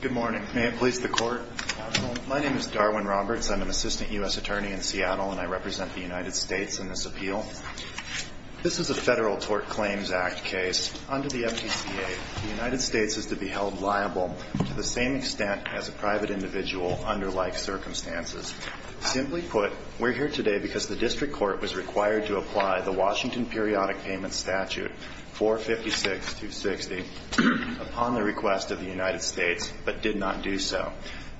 Good morning. May it please the Court? Counsel, my name is Darwin Roberts. I'm an Assistant U.S. Attorney in Seattle, and I represent the United States in this appeal. This is a Federal Tort Claims Act case. Under the FTCA, the United States is to be held liable to the same extent as a private individual under like circumstances. Simply put, we're here today because the District Court was required to apply the Washington Periodic Payment Statute 456-260. It was issued upon the request of the United States, but did not do so.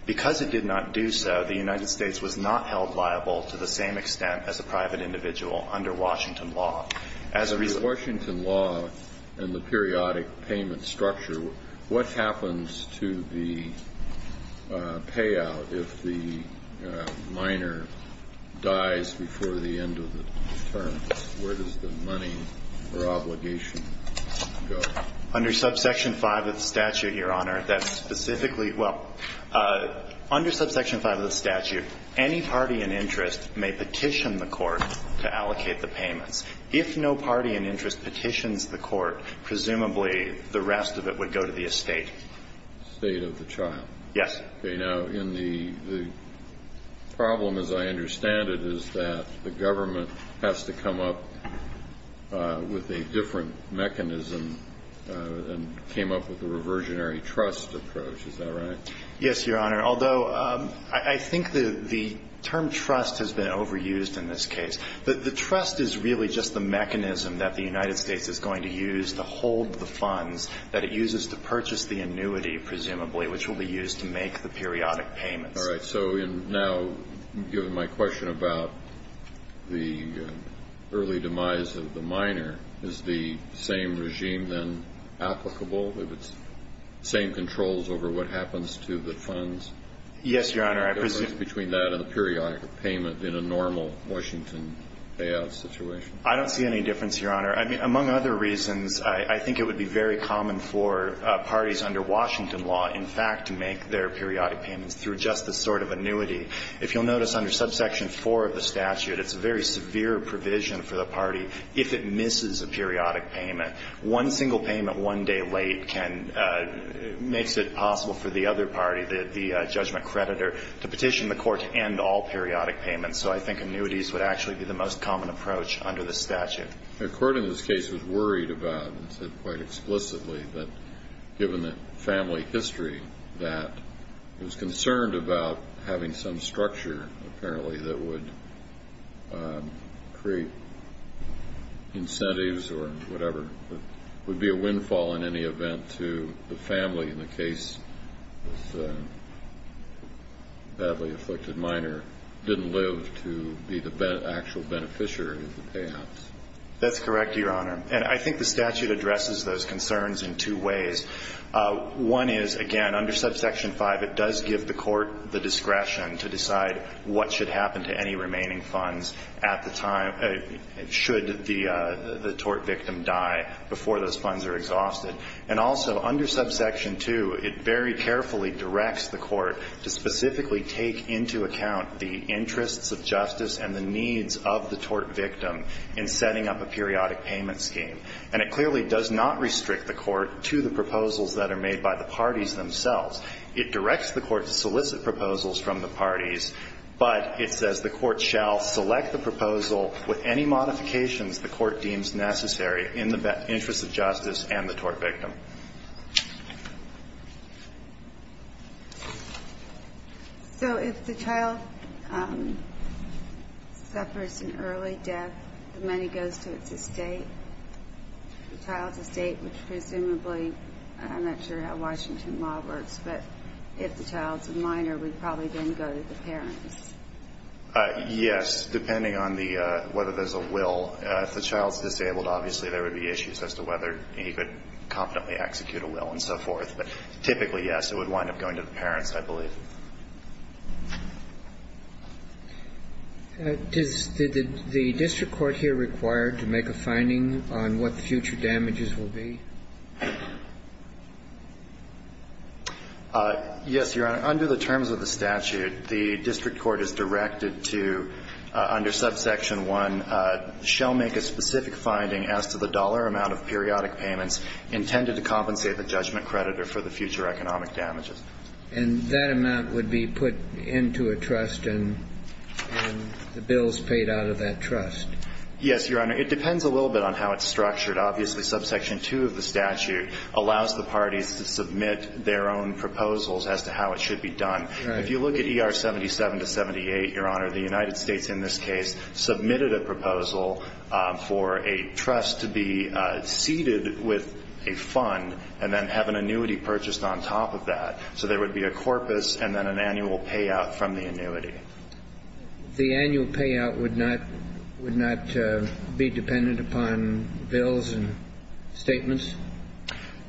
Because it did not do so, the United States was not held liable to the same extent as a private individual under Washington law. As a result of Washington law and the periodic payment structure, what happens to the payout if the minor dies before the end of the term? Where does the money or obligation go? Under subsection 5 of the statute, Your Honor, that specifically – well, under subsection 5 of the statute, any party in interest may petition the Court to allocate the payments. If no party in interest petitions the Court, presumably the rest of it would go to the estate. The estate of the child. Yes. Okay. Now, in the – the problem, as I understand it, is that the government has to come up with a different mechanism and came up with a reversionary trust approach. Is that right? Yes, Your Honor. Although I think the term trust has been overused in this case. The trust is really just the mechanism that the United States is going to use to hold the funds that it uses to purchase the annuity, presumably, which will be used to make the periodic payments. All right. So now, given my question about the early demise of the minor, is the same regime then applicable? If it's the same controls over what happens to the funds? Yes, Your Honor. I presume – The difference between that and the periodic payment in a normal Washington payout situation. I don't see any difference, Your Honor. I mean, among other reasons, I think it would be very common for parties under Washington law, in fact, to make their periodic payments through just this sort of annuity. If you'll notice under subsection 4 of the statute, it's a very severe provision for the party if it misses a periodic payment. One single payment one day late can – makes it possible for the other party, the judgment creditor, to petition the court to end all periodic payments. So I think annuities would actually be the most common approach under the statute. The court in this case was worried about, and said quite explicitly, that given the family history, that it was concerned about having some structure, apparently, that would create incentives or whatever. It would be a windfall in any event to the family in the case of the badly afflicted to be the actual beneficiary of the payouts. That's correct, Your Honor. And I think the statute addresses those concerns in two ways. One is, again, under subsection 5, it does give the court the discretion to decide what should happen to any remaining funds at the time – should the tort victim die before those funds are exhausted. And also, under subsection 2, it very carefully directs the court to specifically take into account the interests of justice and the needs of the tort victim in setting up a periodic payment scheme. And it clearly does not restrict the court to the proposals that are made by the parties themselves. It directs the court to solicit proposals from the parties, but it says the court shall select the proposal with any modifications the court deems necessary in the interest of justice and the tort victim. Thank you, Your Honor. So if the child suffers an early death, the money goes to its estate. The child's estate would presumably – I'm not sure how Washington law works, but if the child's a minor, it would probably then go to the parents. Yes, depending on whether there's a will. If the child's disabled, obviously there would be issues as to whether he could competently execute a will and so forth. But typically, yes, it would wind up going to the parents, I believe. Did the district court here require to make a finding on what the future damages will be? Yes, Your Honor. Under the terms of the statute, the district court is directed to, under subsection 1, shall make a specific finding as to the dollar amount of periodic payments intended to compensate the judgment creditor for the future economic damages. And that amount would be put into a trust and the bills paid out of that trust? Yes, Your Honor. It depends a little bit on how it's structured. Obviously, subsection 2 of the statute allows the parties to submit their own proposals as to how it should be done. Right. If you look at ER 77 to 78, Your Honor, the United States in this case submitted a proposal for a trust to be seeded with a fund and then have an annuity purchased on top of that. So there would be a corpus and then an annual payout from the annuity. The annual payout would not be dependent upon bills and statements?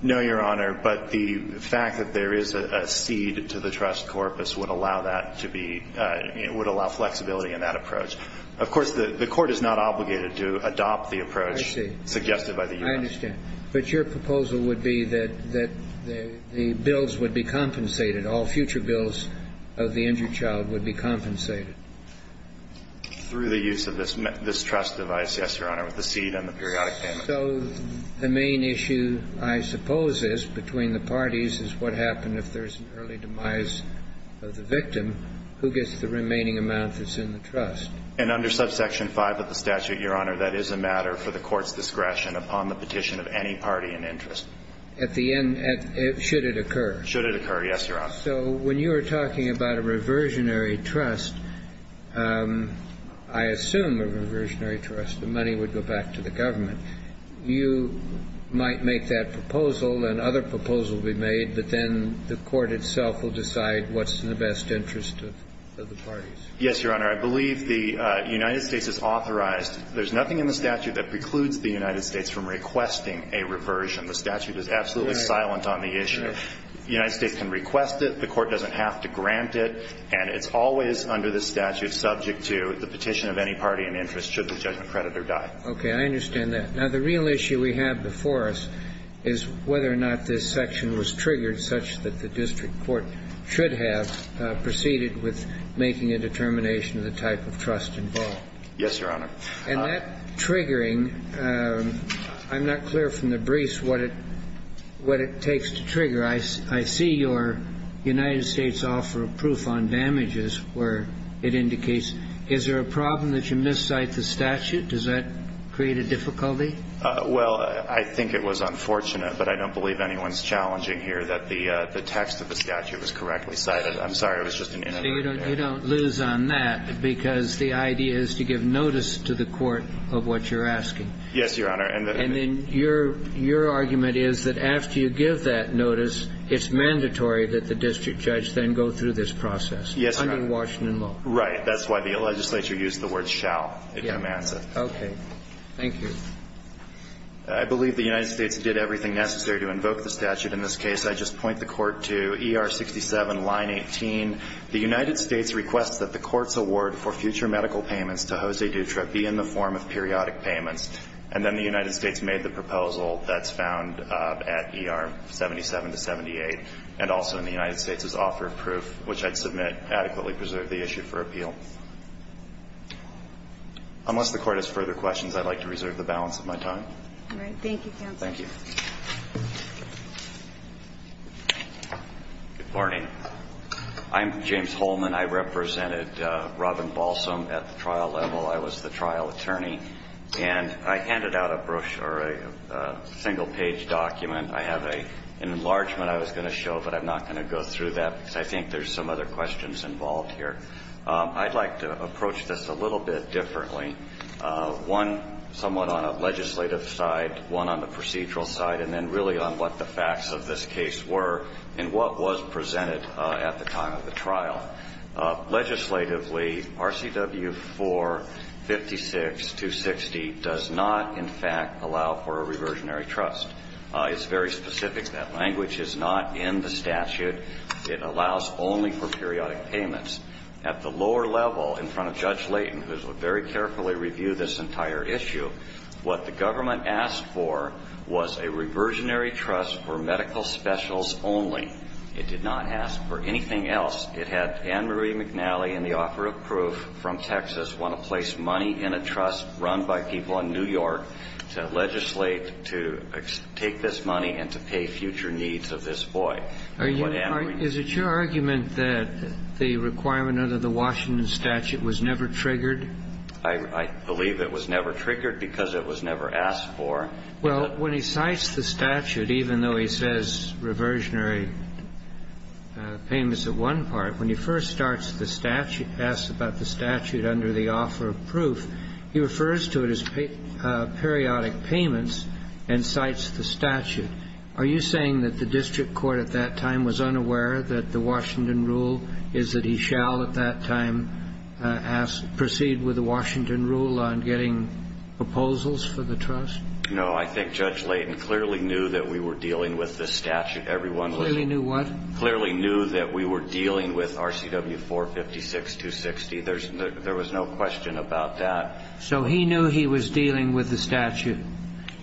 No, Your Honor. But the fact that there is a seed to the trust corpus would allow that to be – would allow flexibility in that approach. Of course, the court is not obligated to adopt the approach suggested by the U.S. I understand. But your proposal would be that the bills would be compensated, all future bills of the injured child would be compensated? Through the use of this trust device, yes, Your Honor, with the seed and the periodic payment. So the main issue, I suppose, is between the parties is what happens if there's an early demise of the victim, who gets the remaining amount that's in the trust? And under subsection 5 of the statute, Your Honor, that is a matter for the court's discretion upon the petition of any party in interest. At the end – should it occur? Should it occur, yes, Your Honor. So when you were talking about a reversionary trust, I assume a reversionary trust, the money would go back to the government. You might make that proposal and other proposals will be made, but then the court itself will decide what's in the best interest of the parties. Yes, Your Honor. I believe the United States is authorized. There's nothing in the statute that precludes the United States from requesting a reversion. The statute is absolutely silent on the issue. The United States can request it. The court doesn't have to grant it. And it's always under the statute subject to the petition of any party in interest should the judgment creditor die. Okay. I understand that. Now, the real issue we have before us is whether or not this section was triggered such that the district court should have proceeded with making a determination of the type of trust involved. Yes, Your Honor. And that triggering, I'm not clear from the briefs what it takes to trigger. I see your United States offer of proof on damages where it indicates, is there a problem that you miss cite the statute? Does that create a difficulty? Well, I think it was unfortunate, but I don't believe anyone's challenging here that the text of the statute was correctly cited. I'm sorry. It was just an inadvertent error. You don't lose on that because the idea is to give notice to the court of what you're asking. Yes, Your Honor. And then your argument is that after you give that notice, it's mandatory that the district judge then go through this process. Yes, Your Honor. Under Washington law. Right. That's why the legislature used the word shall. It commands it. Okay. Thank you. I believe the United States did everything necessary to invoke the statute in this case. I just point the Court to ER 67, line 18. The United States requests that the Court's award for future medical payments to Jose Dutra be in the form of periodic payments. And then the United States made the proposal that's found at ER 77 to 78, and also in the United States' offer of proof, which I'd submit adequately preserved the issue for appeal. Unless the Court has further questions, I'd like to reserve the balance of my time. All right. Thank you, counsel. Thank you. Good morning. I'm James Holman. I represented Robin Balsam at the trial level. I was the trial attorney. And I handed out a brochure, a single-page document. I have an enlargement I was going to show, but I'm not going to go through that because I think there's some other questions involved here. I'd like to approach this a little bit differently, one somewhat on a legislative side, one on the procedural side, and then really on what the facts of this case were and what was presented at the time of the trial. Legislatively, RCW 456-260 does not, in fact, allow for a reversionary trust. It's very specific. That language is not in the statute. It allows only for periodic payments. At the lower level, in front of Judge Layton, who is going to very carefully review this entire issue, what the government asked for was a reversionary trust for medical specials only. It did not ask for anything else. It had Anne Marie McNally and the offer of proof from Texas want to place money in a trust run by people in New York to legislate to take this money and to pay future needs of this boy. Is it your argument that the requirement under the Washington statute was never triggered? I believe it was never triggered because it was never asked for. Well, when he cites the statute, even though he says reversionary payments at one part, when he first starts the statute, asks about the statute under the offer of proof, he refers to it as periodic payments and cites the statute. Are you saying that the district court at that time was unaware that the Washington rule is that he shall at that time proceed with the Washington rule on getting proposals for the trust? No. I think Judge Layton clearly knew that we were dealing with the statute. Clearly knew what? Clearly knew that we were dealing with RCW 456-260. There was no question about that. So he knew he was dealing with the statute?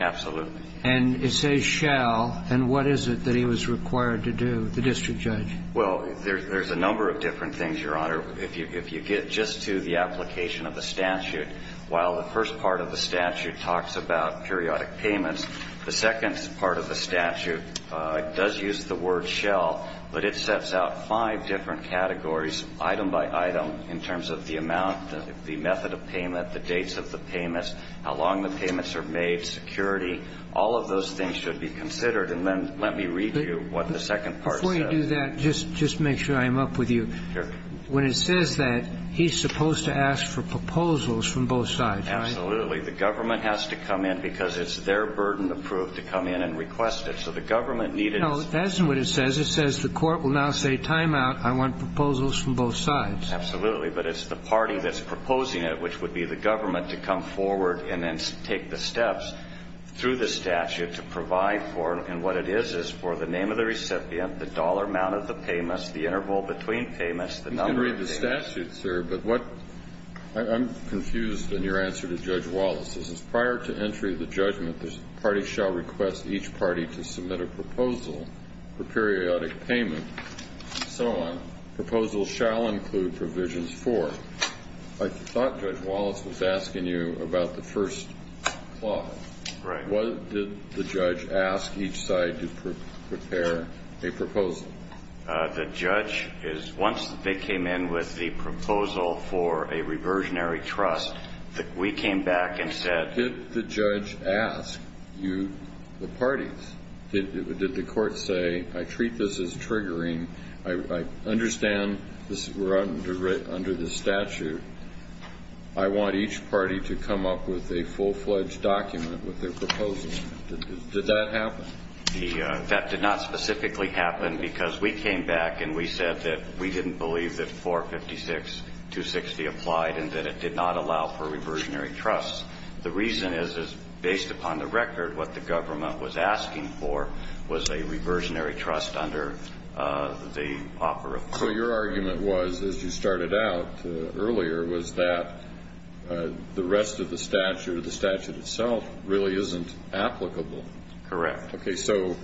Absolutely. And it says shall, and what is it that he was required to do, the district judge? Well, there's a number of different things, Your Honor. If you get just to the application of the statute, while the first part of the statute talks about periodic payments, the second part of the statute does use the word shall, but it sets out five different categories, item by item, in terms of the amount, the method of payment, the dates of the payments, how long the payments are made, security, all of those things should be considered. And then let me read you what the second part says. Before you do that, just make sure I'm up with you. Sure. When it says that, he's supposed to ask for proposals from both sides, right? Absolutely. The government has to come in because it's their burden of proof to come in and request it. So the government needed to see it. No, that's not what it says. It says the court will now say timeout, I want proposals from both sides. Absolutely. But it's the party that's proposing it, which would be the government, to come forward and then take the steps through the statute to provide for, and what it is, is for the name of the recipient, the dollar amount of the payments, the interval between payments, the number of days. You can read the statute, sir, but what – I'm confused in your answer to Judge Wallace's. Prior to entry of the judgment, the party shall request each party to submit a proposal for periodic payment and so on. Proposals shall include provisions for. I thought Judge Wallace was asking you about the first clause. Right. Did the judge ask each side to prepare a proposal? The judge is – once they came in with the proposal for a reversionary trust, we came back and said. Did the judge ask you, the parties, did the court say, I treat this as triggering, I understand we're under this statute. I want each party to come up with a full-fledged document with their proposal. Did that happen? That did not specifically happen because we came back and we said that we didn't believe that 456.260 applied and that it did not allow for reversionary trusts. The reason is, is based upon the record, what the government was asking for was a So your argument was, as you started out earlier, was that the rest of the statute or the statute itself really isn't applicable. Correct. Okay. So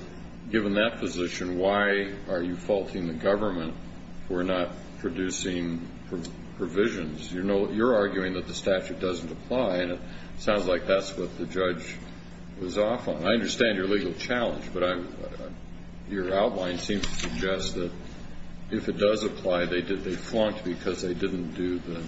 given that position, why are you faulting the government for not producing provisions? You're arguing that the statute doesn't apply and it sounds like that's what the judge was off on. I understand your legal challenge, but your outline seems to suggest that if it does apply, they flunked because they didn't do the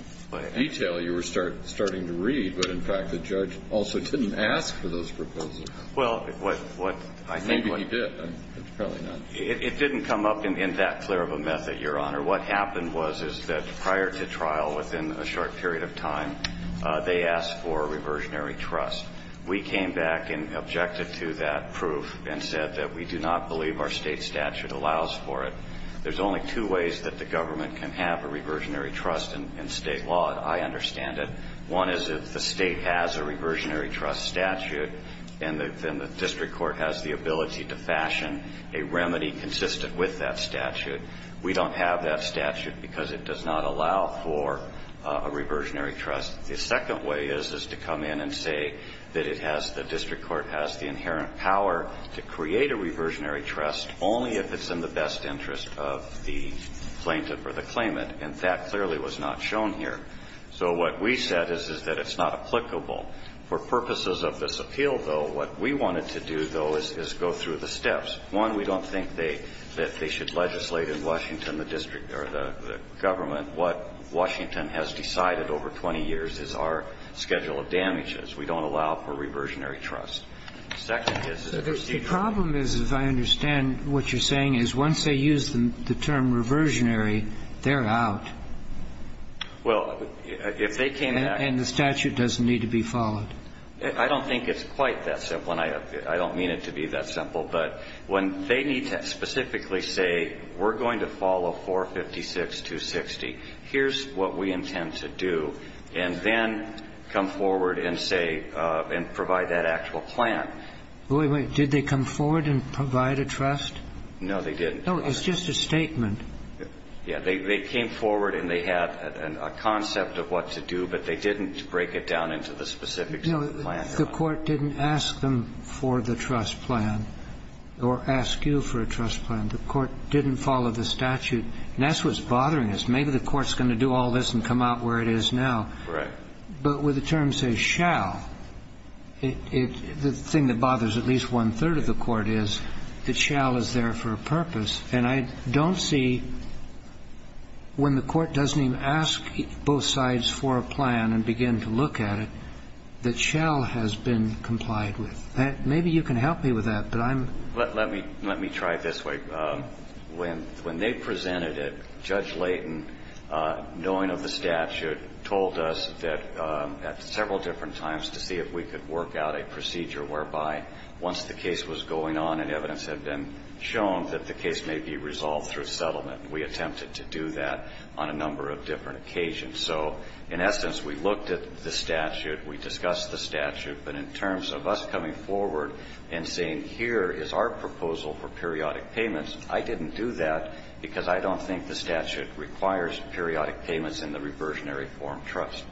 detail you were starting to read. But, in fact, the judge also didn't ask for those proposals. Well, what I think what Maybe he did. Probably not. It didn't come up in that clear of a method, Your Honor. What happened was, is that prior to trial, within a short period of time, they asked for reversionary trust. We came back and objected to that proof and said that we do not believe our State statute allows for it. There's only two ways that the government can have a reversionary trust in State law. I understand it. One is if the State has a reversionary trust statute and then the district court has the ability to fashion a remedy consistent with that statute. We don't have that statute because it does not allow for a reversionary trust. The second way is, is to come in and say that it has, the district court has the inherent power to create a reversionary trust only if it's in the best interest of the plaintiff or the claimant. And that clearly was not shown here. So what we said is, is that it's not applicable. For purposes of this appeal, though, what we wanted to do, though, is go through the steps. One, we don't think that they should legislate in Washington, the district or the government, what Washington has decided over 20 years. It's our schedule of damages. We don't allow for reversionary trust. The second is, is a procedure. The problem is, as I understand what you're saying, is once they use the term reversionary, they're out. Well, if they came back. And the statute doesn't need to be followed. I don't think it's quite that simple, and I don't mean it to be that simple. But when they need to specifically say, we're going to follow 456.260, here's what we intend to do. And then come forward and say, and provide that actual plan. Wait, wait. Did they come forward and provide a trust? No, they didn't. No, it's just a statement. Yeah. They came forward and they had a concept of what to do, but they didn't break it down into the specifics of the plan. No, the court didn't ask them for the trust plan or ask you for a trust plan. The court didn't follow the statute. And that's what's bothering us. Maybe the court's going to do all this and come out where it is now. Correct. But with the term, say, shall, the thing that bothers at least one-third of the court is that shall is there for a purpose. And I don't see, when the court doesn't even ask both sides for a plan and begin to look at it, that shall has been complied with. Maybe you can help me with that, but I'm. Let me try it this way. When they presented it, Judge Layton, knowing of the statute, told us that at several different times to see if we could work out a procedure whereby once the case was going on and evidence had been shown that the case may be resolved through settlement. We attempted to do that on a number of different occasions. So, in essence, we looked at the statute, we discussed the statute, but in terms of us coming forward and saying, here is our proposal for periodic payments, I didn't do that because I don't think the statute requires periodic payments in the reversionary form trust.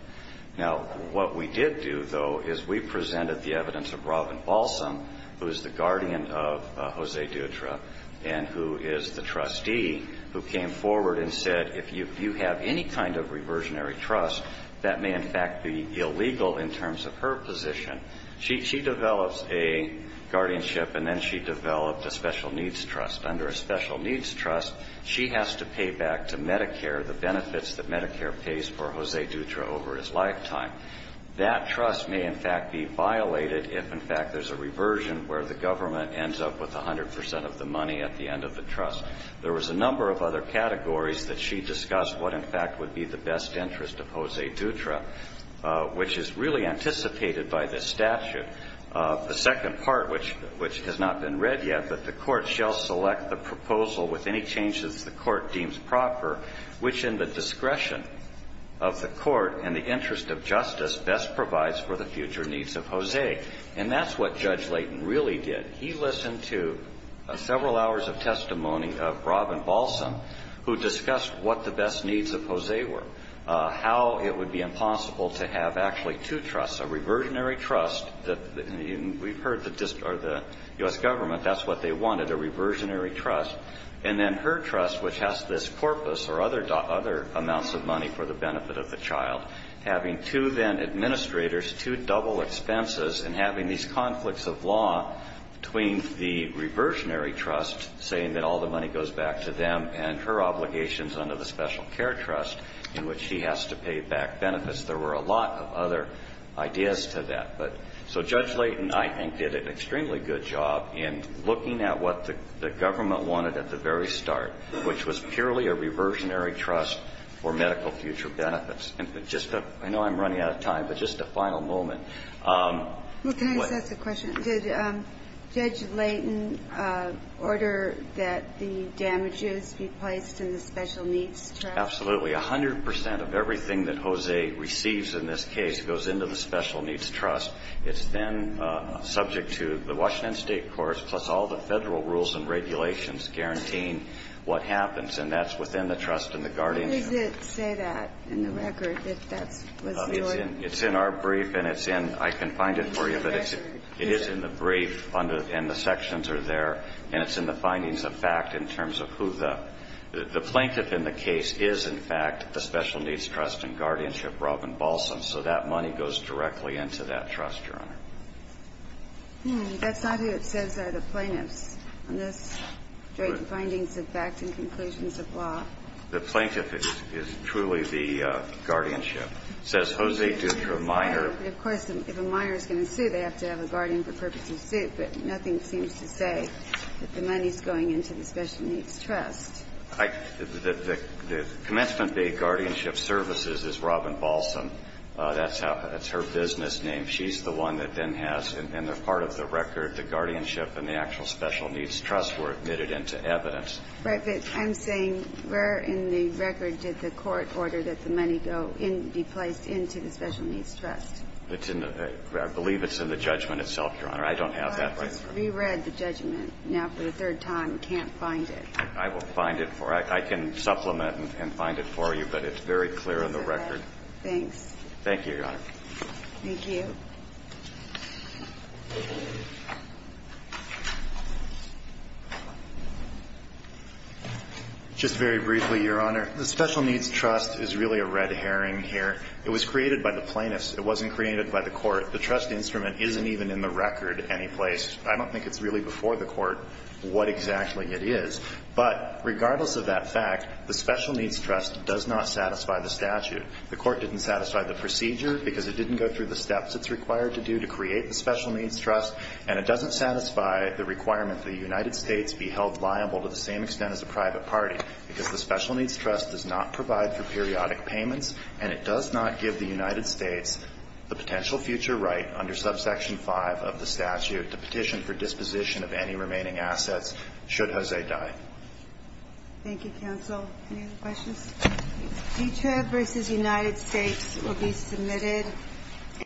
Now, what we did do, though, is we presented the evidence of Robin Balsam, who is the guardian of Jose Dutra and who is the trustee, who came forward and said, if you have any kind of reversionary trust, that may, in fact, be illegal in terms of her position. She develops a guardianship and then she developed a special needs trust. Under a special needs trust, she has to pay back to Medicare the benefits that Medicare pays for Jose Dutra over his lifetime. That trust may, in fact, be violated if, in fact, there's a reversion where the government ends up with 100 percent of the money at the end of the trust. There was a number of other categories that she discussed what, in fact, would be the best interest of Jose Dutra, which is really anticipated by this statute. The second part, which has not been read yet, but the court shall select the proposal with any changes the court deems proper, which in the discretion of the court and the interest of justice best provides for the future needs of Jose. And that's what Judge Layton really did. He listened to several hours of testimony of Robin Balsam, who discussed what the best needs of Jose were, how it would be impossible to have actually two trusts, a reversionary trust that we've heard the U.S. government, that's what they wanted, a reversionary trust, and then her trust, which has this corpus or other amounts of money for the benefit of the child, having two then administrators, two double expenses, and having these conflicts of law between the reversionary trust saying that all the money goes back to them and her obligations under the special care trust in which she has to pay back benefits. There were a lot of other ideas to that. So Judge Layton, I think, did an extremely good job in looking at what the government wanted at the very start, which was purely a reversionary trust for medical future benefits. And just to – I know I'm running out of time, but just a final moment. Well, can I ask a question? Did Judge Layton order that the damages be placed in the special needs trust? Absolutely. A hundred percent of everything that Jose receives in this case goes into the special needs trust. It's then subject to the Washington State courts, plus all the Federal rules and regulations, guaranteeing what happens. And that's within the trust and the guardianship. How does it say that in the record, that that was the order? It's in our brief, and it's in – I can find it for you, but it is in the brief under – and the sections are there. And it's in the findings of fact in terms of who the – the plaintiff in the case is, in fact, the special needs trust and guardianship, Robin Balsam. So that money goes directly into that trust, Your Honor. Hmm. That's not who it says are the plaintiffs in this, during the findings of fact and conclusions of law. The plaintiff is truly the guardianship. It says Jose Dutra Minor. Right. But, of course, if a minor is going to sue, they have to have a guardian for the purpose of suit. But nothing seems to say that the money is going into the special needs trust. I – the commencement day guardianship services is Robin Balsam. That's how – that's her business name. She's the one that then has, and they're part of the record, the guardianship and the actual special needs trust were admitted into evidence. Right. But I'm saying where in the record did the court order that the money go in – be placed into the special needs trust? It's in the – I believe it's in the judgment itself, Your Honor. I don't have that right. Well, I just reread the judgment. Now, for the third time, can't find it. I will find it for – I can supplement and find it for you, but it's very clear in the record. Okay. Thanks. Thank you, Your Honor. Thank you. Just very briefly, Your Honor. The special needs trust is really a red herring here. It was created by the plaintiffs. It wasn't created by the court. The trust instrument isn't even in the record any place. I don't think it's really before the court what exactly it is. But regardless of that fact, the special needs trust does not satisfy the statute. The court didn't satisfy the procedure because it didn't go through the steps it's required to do to create the special needs trust, and it doesn't satisfy the requirement the United States be held liable to the same extent as a private party because the special needs trust does not provide for periodic payments, and it does not give the United States the potential future right under subsection 5 of the statute to petition for disposition of any remaining assets should Jose die. Thank you, counsel. Any other questions? This case, future versus United States, will be submitted.